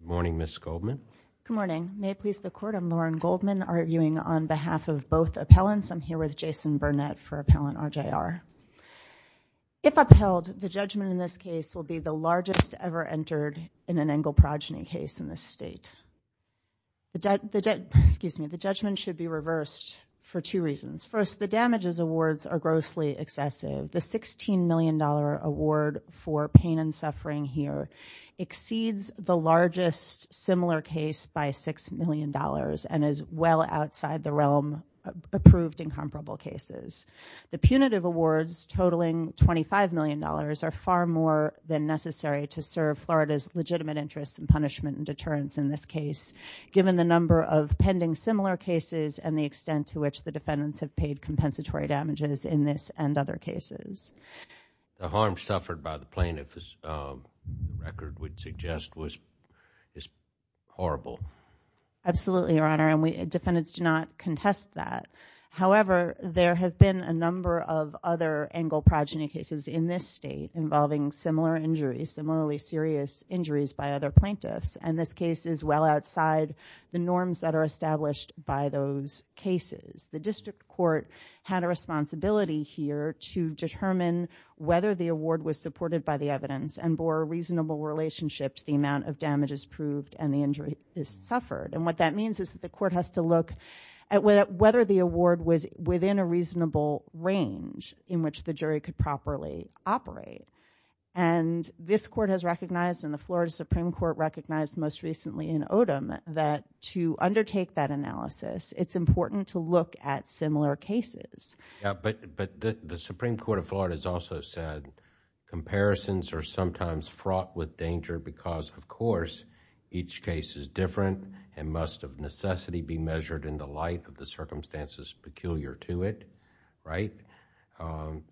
Good morning, Ms. Goldman. Good morning. May it please the Court, I'm Lauren Goldman arguing on behalf of both appellants. I'm here with Jason Burnett for Appellant RJR. If upheld, the judgment in this case will be the largest ever entered in an Engel progeny case in this state. The judgment should be reversed for two reasons. First, the damages awards are grossly excessive. The $16 million award for pain and suffering here exceeds the largest similar case by $6 million and is well outside the realm of approved incomparable cases. The punitive awards totaling $25 million are far more than necessary to serve Florida's legitimate interests and punishment and deterrence in this case given the number of pending similar cases and the extent to which the harm suffered by the plaintiff's record would suggest was horrible. Absolutely, Your Honor, and defendants do not contest that. However, there have been a number of other Engel progeny cases in this state involving similar injuries, similarly serious injuries by other plaintiffs, and this case is well outside the norms that are established by those cases. The district court had a look at whether the award was supported by the evidence and bore a reasonable relationship to the amount of damages proved and the injury suffered. What that means is that the court has to look at whether the award was within a reasonable range in which the jury could properly operate. This court has recognized, and the Florida Supreme Court recognized most recently in Odom, that to undertake that analysis, it's important to look at similar cases. The Supreme Court of Florida has also said comparisons are sometimes fraught with danger because, of course, each case is different and must of necessity be measured in the light of the circumstances peculiar to it, right?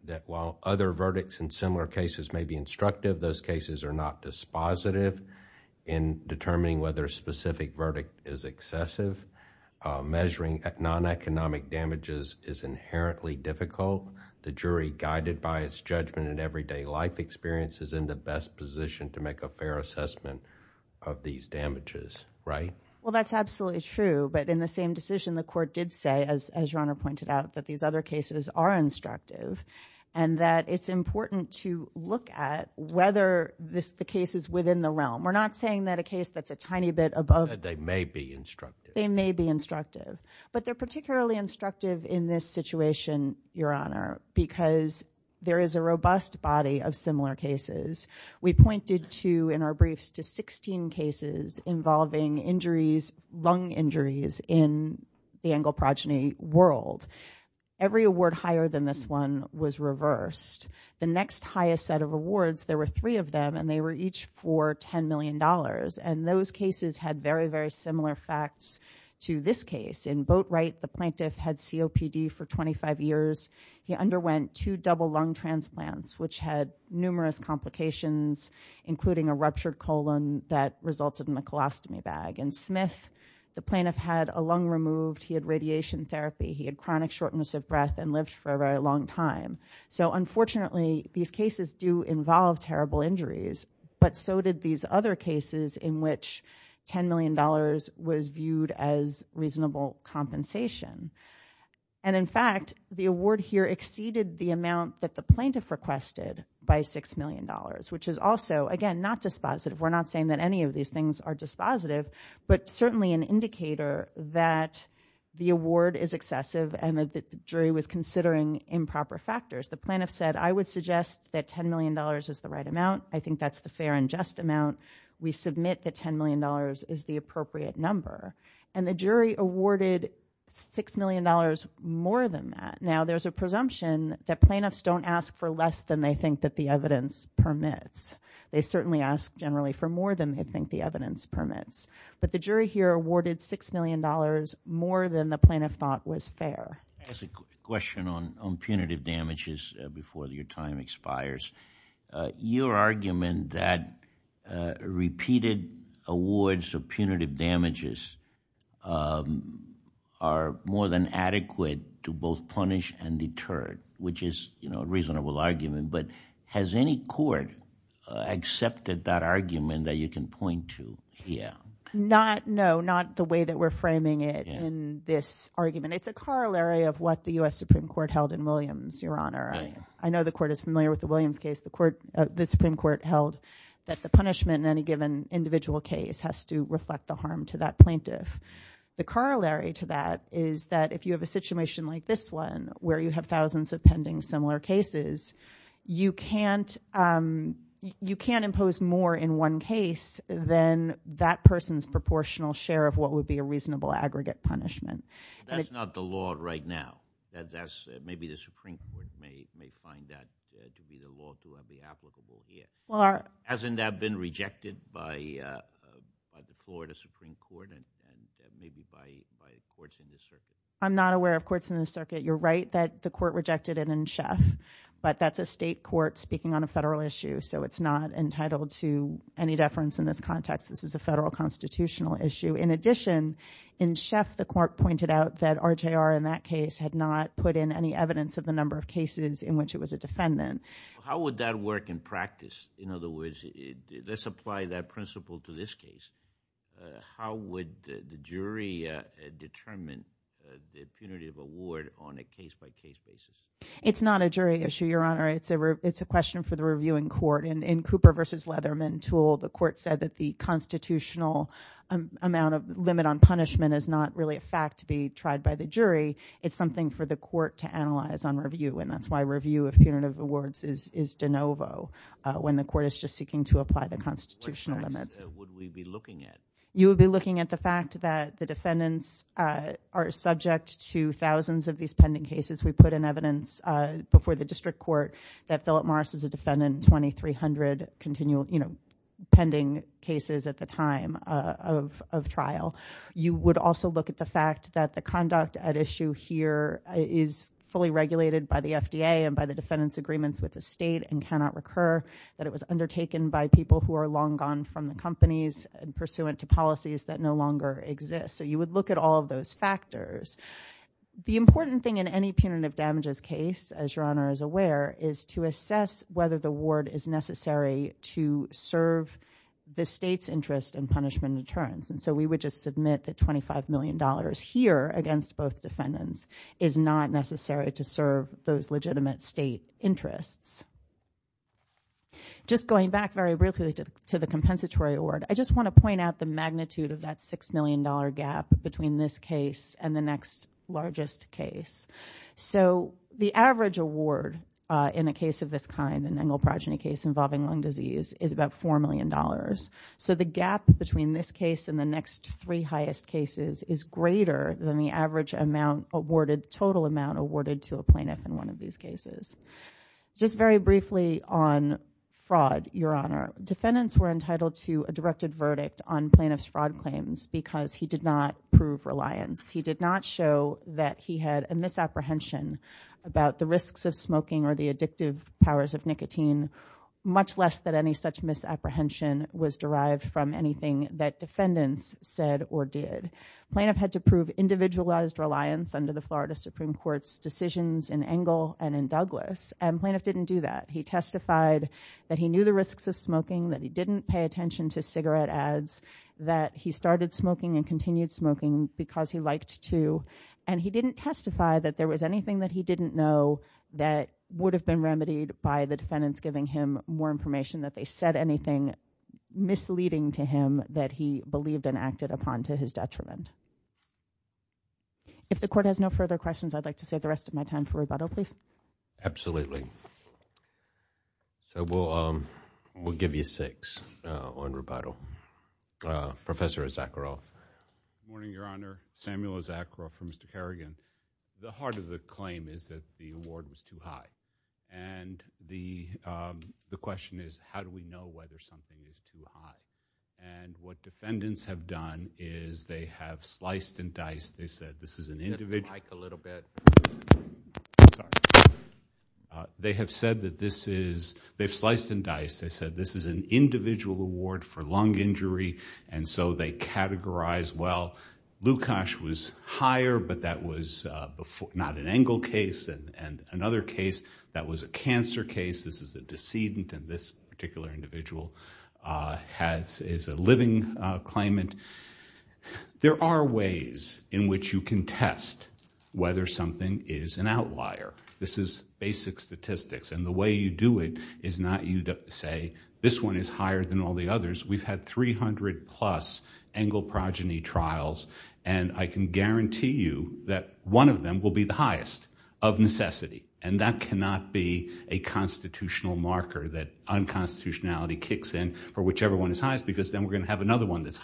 That while other verdicts in similar cases may be instructive, those cases are not dispositive in determining whether a specific verdict is excessive. Measuring non-economic damages is inherently difficult. The jury, guided by its judgment and everyday life experiences, is in the best position to make a fair assessment of these damages, right? Well, that's absolutely true, but in the same decision, the court did say, as your Honor pointed out, that these other cases are instructive and that it's important to look at whether the case is within the realm. We're not saying that a case that's a tiny bit above... But they're particularly instructive in this situation, your Honor, because there is a robust body of similar cases. We pointed to, in our briefs, to 16 cases involving injuries, lung injuries, in the angel progeny world. Every award higher than this one was reversed. The next highest set of awards, there were three of them, and they were each for $10 million, and those cases had very, very similar facts to this case. In Boatwright, the plaintiff had COPD for 25 years. He underwent two double lung transplants, which had numerous complications, including a ruptured colon that resulted in a colostomy bag. In Smith, the plaintiff had a lung removed, he had radiation therapy, he had chronic shortness of breath, and lived for a very long time. So, unfortunately, these cases do involve terrible injuries, but so did these other cases in which $10 million was viewed as reasonable compensation. And, in fact, the award here exceeded the amount that the plaintiff requested by $6 million, which is also, again, not dispositive. We're not saying that any of these things are dispositive, but certainly an indicator that the award is excessive and that the jury was considering improper factors. The plaintiff said, I would suggest that $10 million is the right amount. I think that's the fair and just amount. We submit that $10 million is the appropriate number. And the jury awarded $6 million more than that. Now, there's a presumption that plaintiffs don't ask for less than they think that the evidence permits. They certainly ask, generally, for more than they think the evidence permits. But the jury here awarded $6 million more than the plaintiff thought was fair. I have a question on punitive damages before your time expires. Your argument that repeated awards of punitive damages are more than adequate to both punish and deter, which is a reasonable argument, but has any court accepted that argument that you can point to here? Not, no, not the way that we're framing it in this argument. It's a corollary of what the US Supreme Court held in Williams, Your Honor. I know the court is familiar with the Williams case. The Supreme Court held that the punishment in any given individual case has to reflect the harm to that plaintiff. The corollary to that is that if you have a situation like this one, where you have thousands of pending similar cases, you can't impose more in one case than that person's proportional share of what would be a reasonable aggregate punishment. That's not the law right now. Maybe the Supreme Court may find that to be the law to be applicable here. Hasn't that been rejected by the Florida Supreme Court and maybe by courts in the circuit? I'm not aware of courts in the circuit. You're right that the court rejected it in Schaff, but that's a state court speaking on a federal issue, so it's not entitled to any deference in this context. This is a federal constitutional issue. In addition, in Schaff, the court pointed out that RJR in that case had not put in any evidence of the number of cases in which it was a defendant. How would that work in practice? In other words, let's apply that principle to this case. How would the jury determine the punitive award on a case-by-case basis? It's not a jury issue, Your Honor. It's a question for the reviewing court. In Cooper v. Leatherman, the court said that the constitutional amount of limit on punishment is not really a fact to be tried by the jury. It's something for the court to analyze on review, and that's why review of punitive awards is de novo when the court is just seeking to apply the constitutional limits. What would we be looking at? You would be looking at the fact that the defendants are subject to thousands of these pending cases. We put in evidence before the district court that Philip Morris is a defendant in 2,300 pending cases at the time of trial. You would also look at the fact that the conduct at issue here is fully regulated by the FDA and by the defendants' agreements with the state and cannot recur, that it was undertaken by people who are long gone from the companies and pursuant to policies that no longer exist. So you would look at all of those factors. The important thing in any punitive damages case, as Your Honor is to assess whether the ward is necessary to serve the state's interest in punishment and deterrence. And so we would just submit that $25 million here against both defendants is not necessary to serve those legitimate state interests. Just going back very briefly to the compensatory award, I just want to point out the magnitude of that $6 million gap between this case and the next largest case. So the average award in a case of this kind, an engel progeny case involving lung disease, is about $4 million. So the gap between this case and the next three highest cases is greater than the average amount awarded, total amount awarded to a plaintiff in one of these cases. Just very briefly on fraud, Your Honor. Defendants were entitled to a directed verdict on plaintiff's fraud claims because he did not prove reliance. He did not show that he had a misapprehension about the risks of smoking or the addictive powers of nicotine, much less that any such misapprehension was derived from anything that defendants said or did. Plaintiff had to prove individualized reliance under the Florida Supreme Court's decisions in Engel and in Douglas, and plaintiff didn't do that. He testified that he knew the risks of smoking and continued smoking because he liked to, and he didn't testify that there was anything that he didn't know that would have been remedied by the defendants giving him more information that they said anything misleading to him that he believed and acted upon to his detriment. If the court has no further questions, I'd like to save the rest of my time for rebuttal, please. Absolutely. So we'll give you six on rebuttal. Professor Azakaroff. Good morning, Your Honor. Samuel Azakaroff from Mr. Kerrigan. The heart of the claim is that the award was too high, and the question is how do we know whether something was too high, and what defendants have done is they have sliced and diced. They said this is an individual award for lung injury, and so they categorize, well, Lukasz was higher, but that was not an Engel case, and another case that was a cancer case. This is a decedent, and this particular individual is a living claimant. There are ways in which you can test whether something is an outlier. This is basic statistics, and the way you do it is not you say this one is higher than all the others. We've had 300-plus Engel progeny trials, and I can guarantee you that one of them will be the highest of necessity, and that cannot be a constitutional marker that unconstitutionality kicks in for whichever one is highest, because then we're going to have another one that's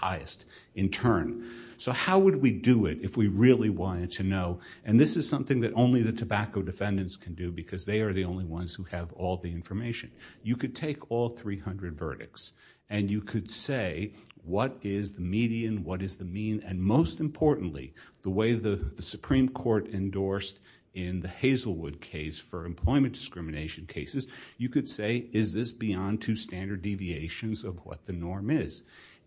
no, and this is something that only the tobacco defendants can do, because they are the only ones who have all the information. You could take all 300 verdicts, and you could say what is the median, what is the mean, and most importantly, the way the Supreme Court endorsed in the Hazelwood case for employment discrimination cases, you could say is this beyond two standard deviations of what the norm is.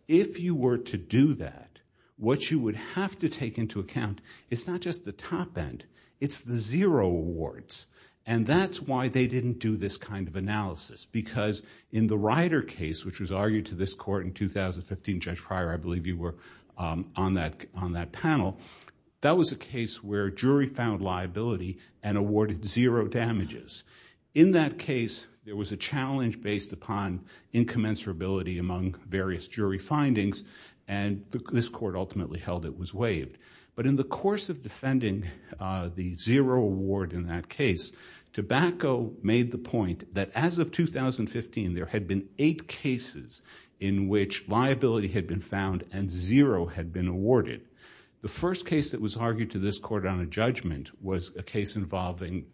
If you were to do that, what you would have to take into account is not just the top end, it's the zero awards, and that's why they didn't do this kind of analysis, because in the Ryder case, which was argued to this court in 2015, Judge Pryor, I believe you were on that panel, that was a case where a jury found liability and awarded zero damages. In that case, there was a challenge based upon incommensurability among various jury findings, and this court ultimately held it was waived. In the course of defending the zero award in that case, tobacco made the point that as of 2015, there had been eight cases in which liability had been found and zero had been awarded. The first case that was argued to this court on a judgment was a case involving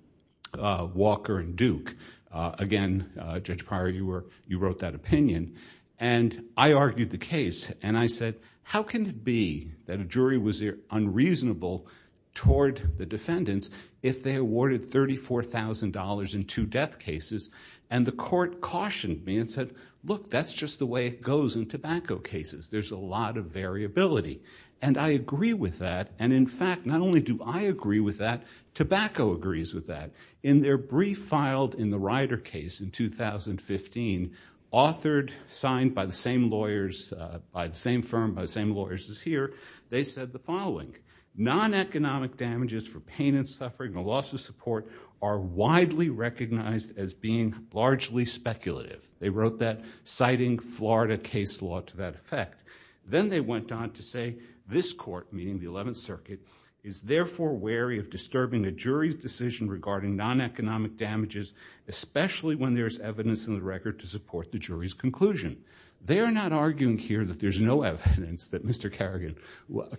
Walker and Duke. Again, Judge Pryor, you wrote that opinion. I argued the case, and I said, how can it be that a jury was unreasonable toward the defendants if they awarded $34,000 in two death cases, and the court cautioned me and said, look, that's just the way it goes in tobacco cases. There's a lot of variability. I agree with that. In fact, not only do I agree with that, tobacco agrees with that. In their brief filed in the Ryder case in 2015, authored, signed by the same lawyers, by the same firm, by the same lawyers as here, they said the following, non-economic damages for pain and suffering and loss of support are widely recognized as being largely speculative. They wrote that citing Florida case law to that effect. Then they went on to say this court, meaning the 11th Circuit, is therefore wary of disturbing a jury's decision regarding non-economic damages, especially when there's evidence in the court to support the jury's conclusion. They're not arguing here that there's no evidence that Mr.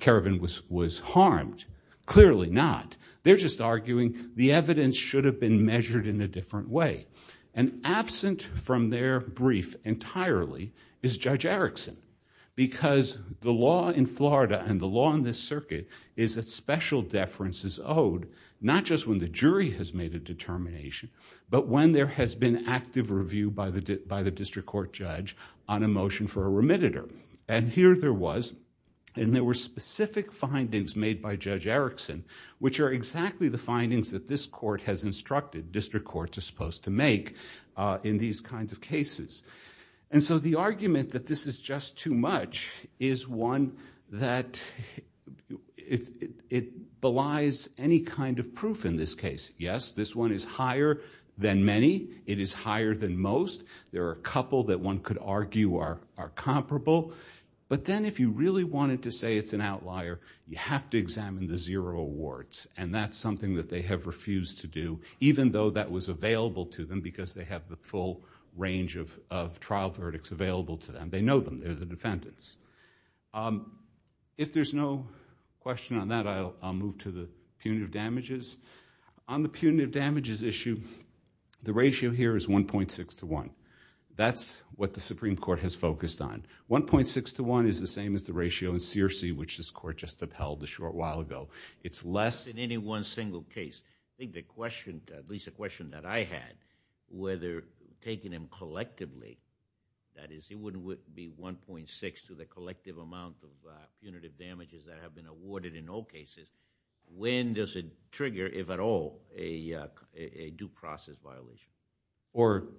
Kerrigan was harmed. Clearly not. They're just arguing the evidence should have been measured in a different way. Absent from their brief entirely is Judge Erickson, because the law in Florida and the law in this circuit is that special deference is owed, not just when the jury has made a determination, but when there has been active review by the district court judge on a motion for a remitter. Here there was, and there were specific findings made by Judge Erickson, which are exactly the findings that this court has instructed district courts are supposed to make in these kinds of cases. The argument that this is just too much is one that belies any kind of proof in this case. Yes, this one is higher than many. It is higher than most. There are a couple that one could argue are comparable, but then if you really wanted to say it's an outlier, you have to examine the zero awards. That's something that they have refused to do, even though that was available to them because they have the full range of trial verdicts available to them. They know them. They're the defendants. If there's no question on that, I'll move to the punitive damages. On the punitive damages issue, the ratio here is 1.6 to 1. That's what the Supreme Court has focused on. 1.6 to 1 is the same as the ratio in Searcy, which this court just upheld a short while ago. It's less...... 1.6 to the collective amount of punitive damages that have been awarded in all cases. When does it trigger, if at all, a due process violation? Judge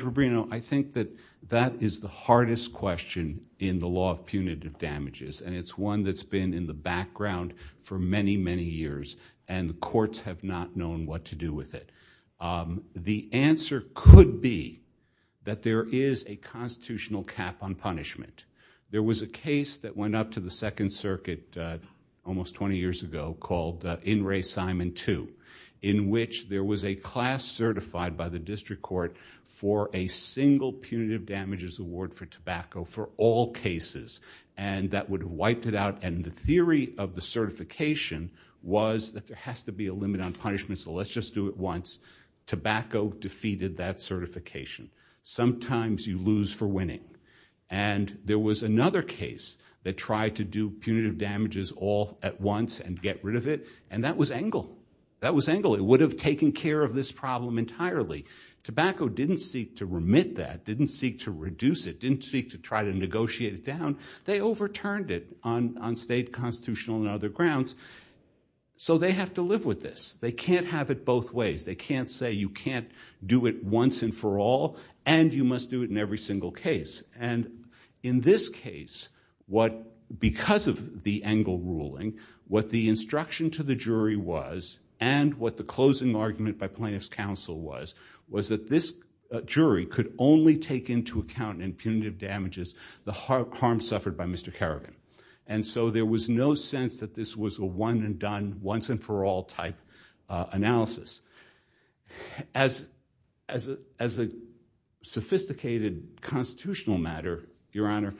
Rubino, I think that that is the hardest question in the law of punitive damages. It's one that's been in the background for many, many years and the courts have not known what to do with it. The answer could be that there is a constitutional cap on punishment. There was a case that went up to the Second Circuit almost twenty years ago called In Re Simon 2, in which there was a class certified by the district court for a single punitive damages award for tobacco for all cases. That would have wiped it out. The theory of there has to be a limit on punishment, so let's just do it once. Tobacco defeated that certification. Sometimes you lose for winning. There was another case that tried to do punitive damages all at once and get rid of it. That was Engle. That was Engle. It would have taken care of this problem entirely. Tobacco didn't seek to remit that, didn't seek to reduce it, didn't seek to try to negotiate it down. They overturned it on state, constitutional and other grounds. They have to live with this. They can't have it both ways. They can't say you can't do it once and for all and you must do it in every single case. In this case, because of the Engle ruling, what the instruction to the jury was and what the closing argument by plaintiff's counsel was, was that this jury could only take into account in punitive damages the harm suffered by a one-and-done, once-and-for-all type analysis. As a sophisticated constitutional matter, your honor,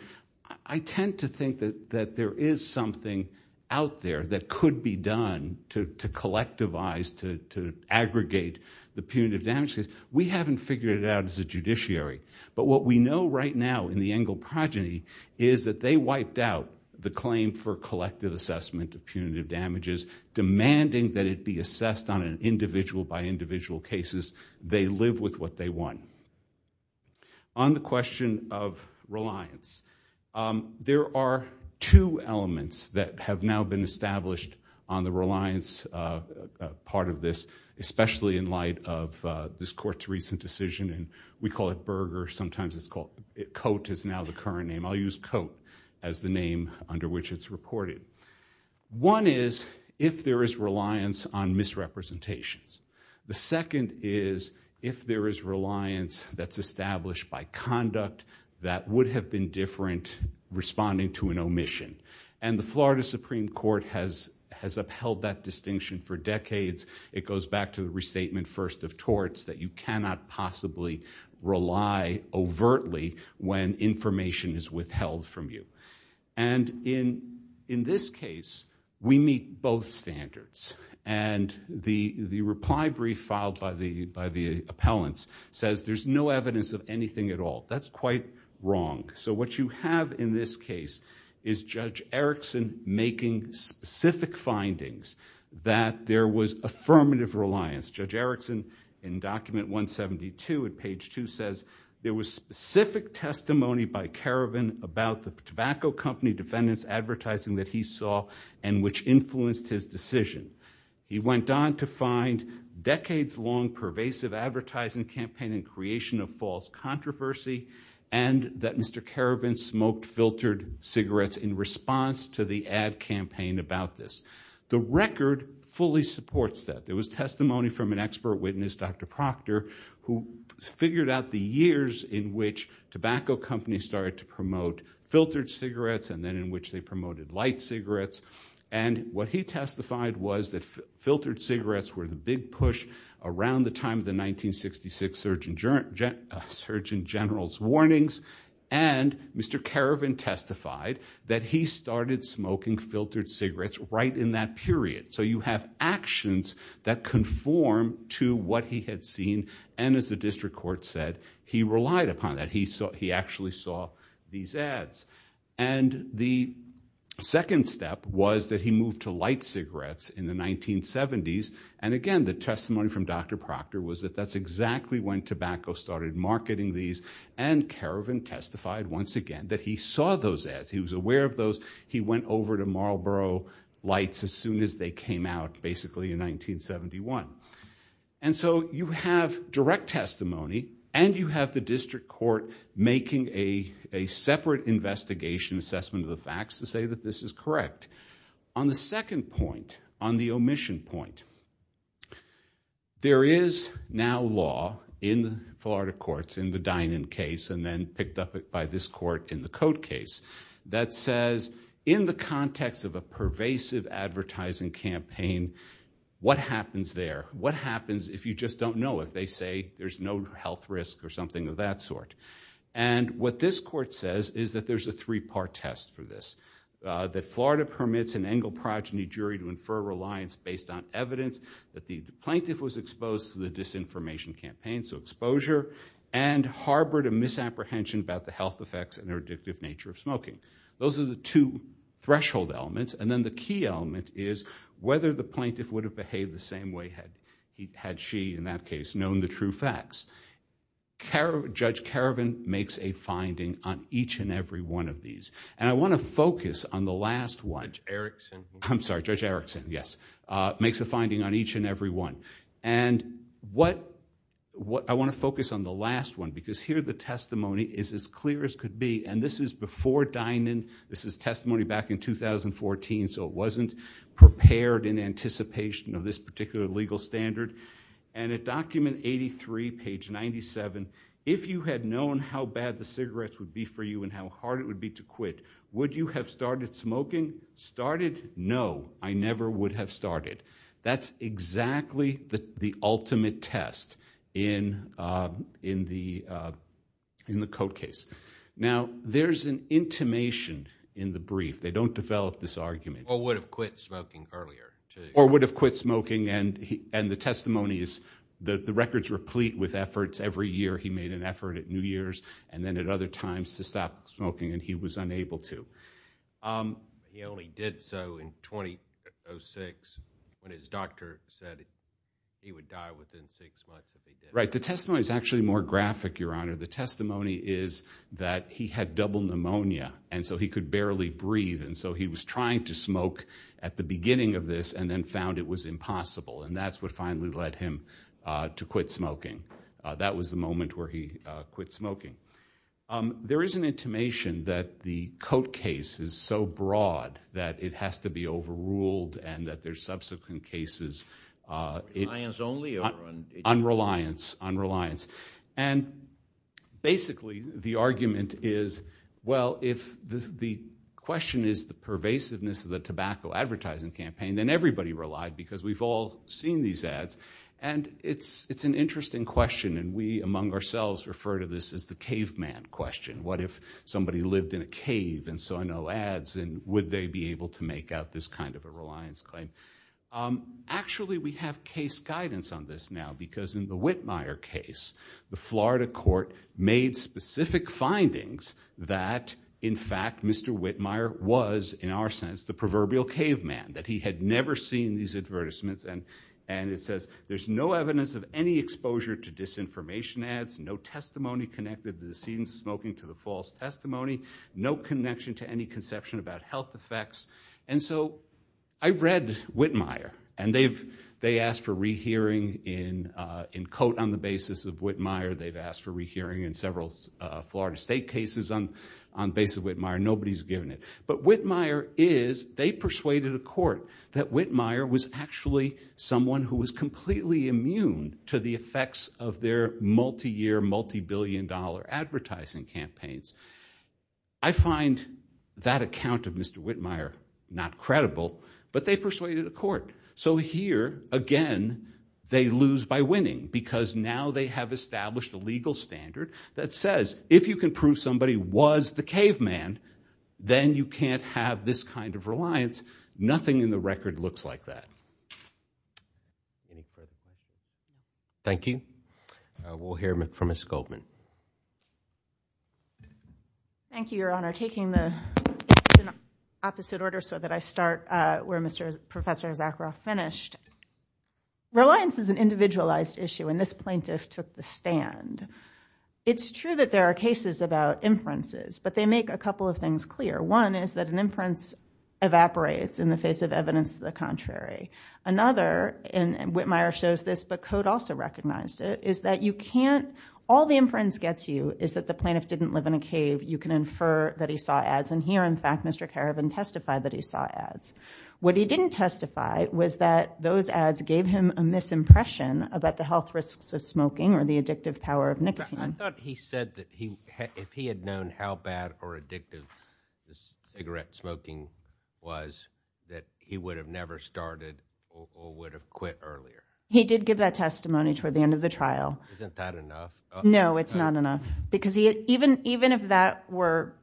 I tend to think that that there is something out there that could be done to collectivize, to aggregate the punitive damages. We haven't figured it out as a judiciary, but what we know right now in the Engle progeny is that they wiped out the claim for collective assessment of punitive damages, demanding that it be assessed on an individual by individual cases. They live with what they won. On the question of reliance, there are two elements that have now been established on the reliance part of this, especially in light of this court's recent decision. We call it Berger. Sometimes it's called... Cote is now the current name. I'll use Cote as the name under which it's reported. One is if there is reliance on misrepresentations. The second is if there is reliance that's established by conduct that would have been different responding to an omission. The Florida Supreme Court has upheld that distinction for decades. It goes back to the restatement first of torts, that you cannot possibly rely overtly when information is withheld from you. In this case, we meet both standards. The reply brief filed by the appellants says there's no evidence of anything at all. That's quite wrong. What you have in this case is Judge Erickson making specific findings that there was affirmative reliance. Judge Erickson says there was specific testimony by Caravan about the tobacco company defendants advertising that he saw and which influenced his decision. He went on to find decades-long pervasive advertising campaign and creation of false controversy and that Mr. Caravan smoked filtered cigarettes in response to the ad campaign about this. The record fully supports that. There was testimony from an expert witness, Dr. Proctor, who figured out the years in which tobacco companies started to promote filtered cigarettes and then in which they promoted light cigarettes. What he testified was that filtered cigarettes were the big push around the time of the 1966 Surgeon General's warnings. Mr. Caravan testified that he started smoking filtered cigarettes right in that period. You have actions that conform to what he had seen and as the district court said, he relied upon that. He actually saw these ads. The second step was that he moved to light cigarettes in the 1970s and again the testimony from Dr. Proctor was that that's exactly when tobacco started marketing these and Caravan testified once again that he saw those ads. He was over to Marlborough Lights as soon as they came out basically in 1971. You have direct testimony and you have the district court making a separate investigation assessment of the facts to say that this is correct. On the second point, on the omission point, there is now law in the Florida courts in the Dinan case and then picked up it by this court in the Cote case that says in the context of a pervasive advertising campaign, what happens there? What happens if you just don't know? If they say there's no health risk or something of that sort and what this court says is that there's a three-part test for this. That Florida permits an Engle progeny jury to infer reliance based on evidence that the plaintiff was exposed to the disinformation campaign, so exposure and harbored a misapprehension about the health effects and their addictive nature of smoking. Those are the two threshold elements and then the key element is whether the plaintiff would have behaved the same way had she in that case known the true facts. Judge Caravan makes a finding on each and every one of these. I want to focus on the last one. I'm sorry, Judge Erickson, yes, makes a finding on each and every one. I want to focus on the last one because here the testimony is as clear as could be and this is before Dinan. This is testimony back in 2014, so it wasn't prepared in anticipation of this particular legal standard and at document 83, page 97, if you had known how bad the cigarettes would be for you and how hard it would be to quit, would you have started smoking? Started? No, I never would have in the in the court case. Now there's an intimation in the brief. They don't develop this argument. Or would have quit smoking earlier. Or would have quit smoking and the testimony is that the records replete with efforts. Every year he made an effort at New Year's and then at other times to stop smoking and he was unable to. He only did so in 2006 when his doctor said he would die within six months. Right, the testimony is actually more graphic, Your Honor. The testimony is that he had double pneumonia and so he could barely breathe and so he was trying to smoke at the beginning of this and then found it was impossible and that's what finally led him to quit smoking. That was the moment where he quit smoking. There is an intimation that the Coate case is so broad that it has to be overruled and that there's subsequent cases. Reliance only? Unreliance, unreliance. And basically the argument is well if the question is the pervasiveness of the tobacco advertising campaign then everybody relied because we've all seen these ads and it's it's an interesting question and we among ourselves refer to this as the caveman question. What if somebody lived in a cave and saw no ads and would they be able to make out this kind of a reliance claim? Actually we have case guidance on this now because in the Whitmire case the Florida court made specific findings that in fact Mr. Whitmire was in our sense the proverbial caveman, that he had never seen these advertisements and and it says there's no evidence of any exposure to disinformation ads, no testimony connected to the scenes smoking to the false testimony, no connection to any conception about health effects and so I read Whitmire and they've they asked for rehearing in in Coate on the basis of Whitmire, they've asked for rehearing in several Florida State cases on on base of Whitmire, nobody's given it. But Whitmire is, they persuaded a court that Whitmire was actually someone who was completely immune to the effects of their multi-year multi-billion dollar advertising campaigns. I find that account of Mr. Whitmire not credible but they persuaded a court so here again they lose by winning because now they have established a legal standard that says if you can prove somebody was the caveman then you can't have this kind of reliance. Nothing in the record looks like that. Thank you. We'll hear from Ms. Goldman. Thank you, your honor. Taking the opposite order so that I start where Mr. Professor Zakharoff finished. Reliance is an individualized issue and this plaintiff took the stand. It's true that there are cases about inferences but they make a couple of things clear. One is that an inference evaporates in the face of evidence to the contrary. Another and Whitmire shows this but Coate also recognized it, is that you can't, all the inference gets you is that the plaintiff didn't live in a cave. You can infer that he saw ads and here in fact Mr. Keravan testified that he saw ads. What he didn't testify was that those ads gave him a misimpression about the health risks of smoking or the addictive power of nicotine. I thought he said that he if he had known how bad or addictive cigarette smoking was that he would have never started or would have earlier. He did give that testimony toward the end of the trial. Isn't that enough? No it's not enough because he even even if that were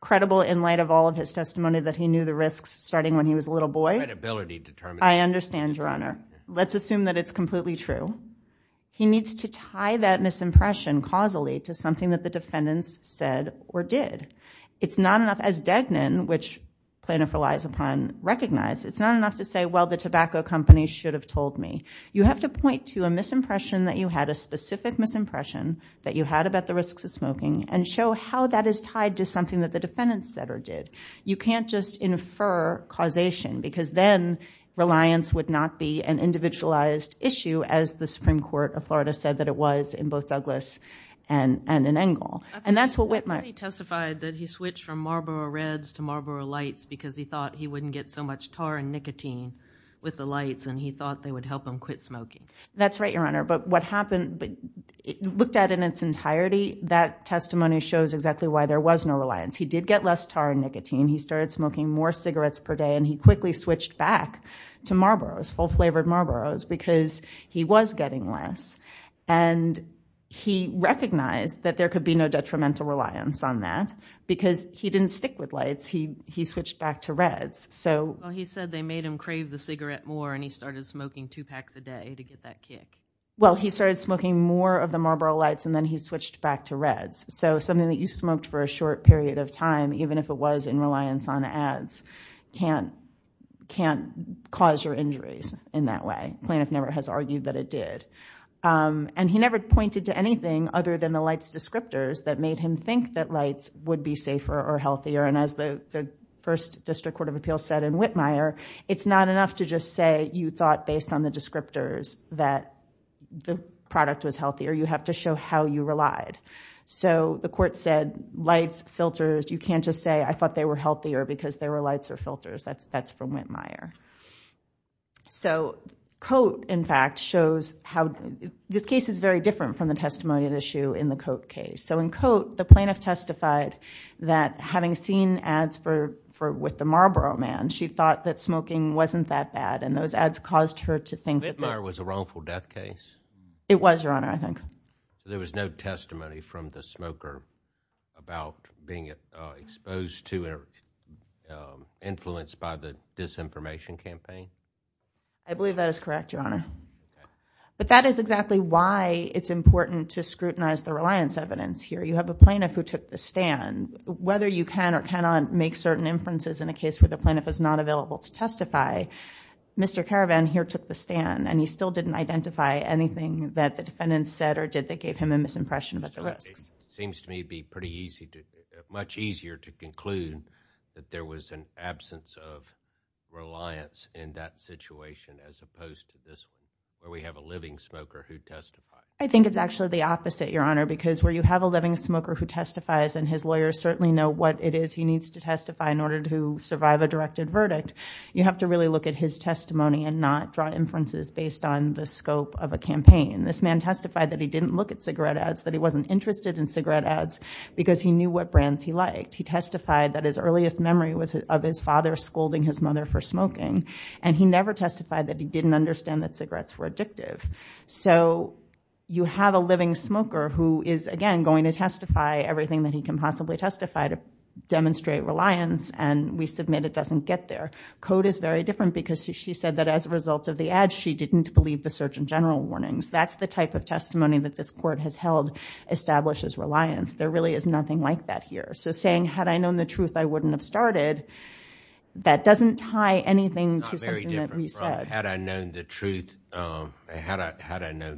credible in light of all of his testimony that he knew the risks starting when he was a little boy. Credibility determined. I understand your honor. Let's assume that it's completely true. He needs to tie that misimpression causally to something that the defendants said or did. It's not enough as Degnan which plaintiff relies upon recognize. It's not enough to say well the tobacco company should have told me. You have to point to a misimpression that you had a specific misimpression that you had about the risks of smoking and show how that is tied to something that the defendants said or did. You can't just infer causation because then reliance would not be an individualized issue as the Supreme Court of Florida said that it was in both Douglas and in Engle. And that's what Whitmer testified that he switched from Marlboro Reds to Marlboro Lights because he thought he wouldn't get so much tar and nicotine with the lights and he thought they would help him quit smoking. That's right your honor but what happened but looked at in its entirety that testimony shows exactly why there was no reliance. He did get less tar and nicotine. He started smoking more cigarettes per day and he quickly switched back to Marlboros, full flavored Marlboros because he was getting less and he recognized that there could be no detrimental reliance on that because he didn't stick with lights. He switched back to Reds so he said they made him crave the cigarette more and he started smoking two packs a day to get that kick. Well he started smoking more of the Marlboro Lights and then he switched back to Reds. So something that you smoked for a short period of time even if it was in reliance on ads can't cause your injuries in that way. Plaintiff never has argued that it did. And he never pointed to anything other than the lights descriptors that made him think that lights would be safer or healthier and as the first District Court of Appeals said in Whitmire, it's not enough to just say you thought based on the descriptors that the product was healthier. You have to show how you relied. So the court said lights, filters, you can't just say I thought they were healthier because there were lights or filters. That's from Whitmire. So Cote in fact shows how this case is very different from the testimonial issue in the Cote case. So in Cote the plaintiff testified that having seen ads for for with the Marlboro man she thought that smoking wasn't that bad and those ads caused her to think that. Whitmire was a wrongful death case? It was your honor I think. There was no testimony from the smoker about being exposed to or influenced by the disinformation campaign? I believe that is correct your honor. But that is exactly why it's important to scrutinize the reliance evidence here. You have a plaintiff who took the stand. Whether you can or cannot make certain inferences in a case where the plaintiff is not available to testify, Mr. Caravan here took the stand and he still didn't identify anything that the defendants said or did that gave him a misimpression about the risks. It seems to me to be pretty easy, much easier to conclude that there was an opposed to this where we have a living smoker who testified. I think it's actually the opposite your honor because where you have a living smoker who testifies and his lawyers certainly know what it is he needs to testify in order to survive a directed verdict, you have to really look at his testimony and not draw inferences based on the scope of a campaign. This man testified that he didn't look at cigarette ads, that he wasn't interested in cigarette ads because he knew what brands he liked. He testified that his earliest memory was of his father scolding his mother for smoking and he never testified that he didn't understand that cigarettes were addictive. You have a living smoker who is again going to testify everything that he can possibly testify to demonstrate reliance and we submit it doesn't get there. Code is very different because she said that as a result of the ad she didn't believe the search and general warnings. That's the type of testimony that this court has held establishes reliance. There really is nothing like that here. Saying had I known the truth, had I known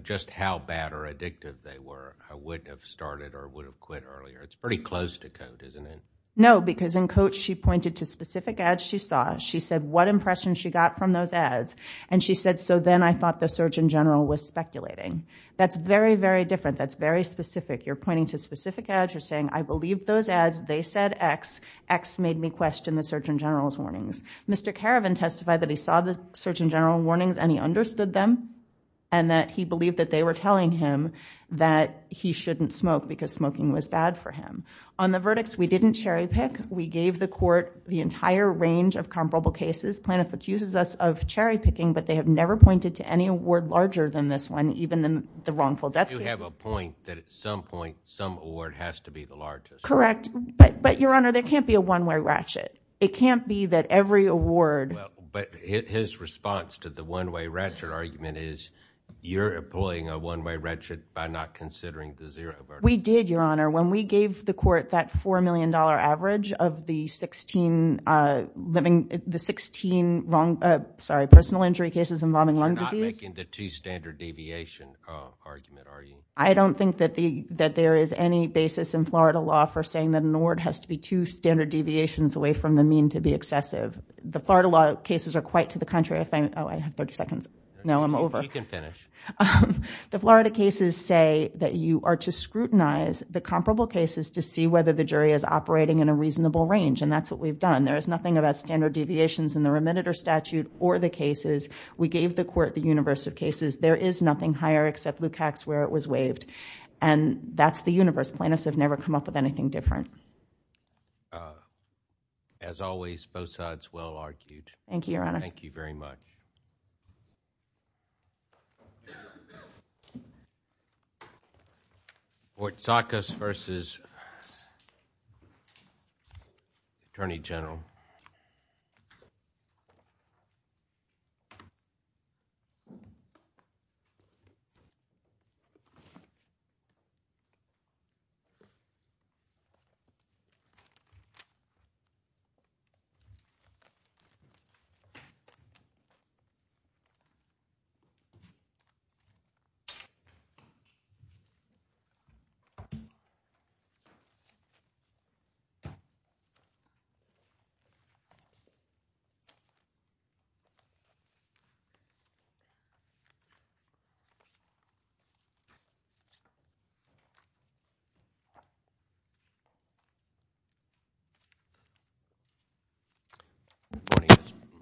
just how bad or addictive they were, I wouldn't have started or would have quit earlier. It's pretty close to code, isn't it? No because in code she pointed to specific ads she saw. She said what impression she got from those ads and she said so then I thought the search in general was speculating. That's very very different. That's very specific. You're pointing to specific ads. You're saying I believe those ads. They said X. X made me question the search in general's warnings. Mr. Caravan testified that he saw the search in general warnings and he understood them and that he believed that they were telling him that he shouldn't smoke because smoking was bad for him. On the verdicts we didn't cherry-pick. We gave the court the entire range of comparable cases. Plano accuses us of cherry-picking but they have never pointed to any award larger than this one even in the wrongful death. You have a point that at some point some award has to be the largest. Correct but but your honor there can't be a one-way ratchet. It can't be that every award. But his response to the one-way ratchet argument is you're employing a one-way ratchet by not considering the zero. We did your honor when we gave the court that four million dollar average of the 16 living the 16 wrong sorry personal injury cases involving lung disease. You're not making the two standard deviation argument are you? I don't think that the that there is any basis in Florida law for saying that an two standard deviations away from the mean to be excessive. The Florida law cases are quite to the contrary. Oh I have 30 seconds. No I'm over. You can finish. The Florida cases say that you are to scrutinize the comparable cases to see whether the jury is operating in a reasonable range and that's what we've done. There is nothing about standard deviations in the remediator statute or the cases. We gave the court the universe of cases. There is nothing higher except Lukacs where it was waived and that's the universe. Plano's have never come up with anything different. As always both sides well argued. Thank you your honor. Thank you very much. Fort Saccas versus Attorney General. you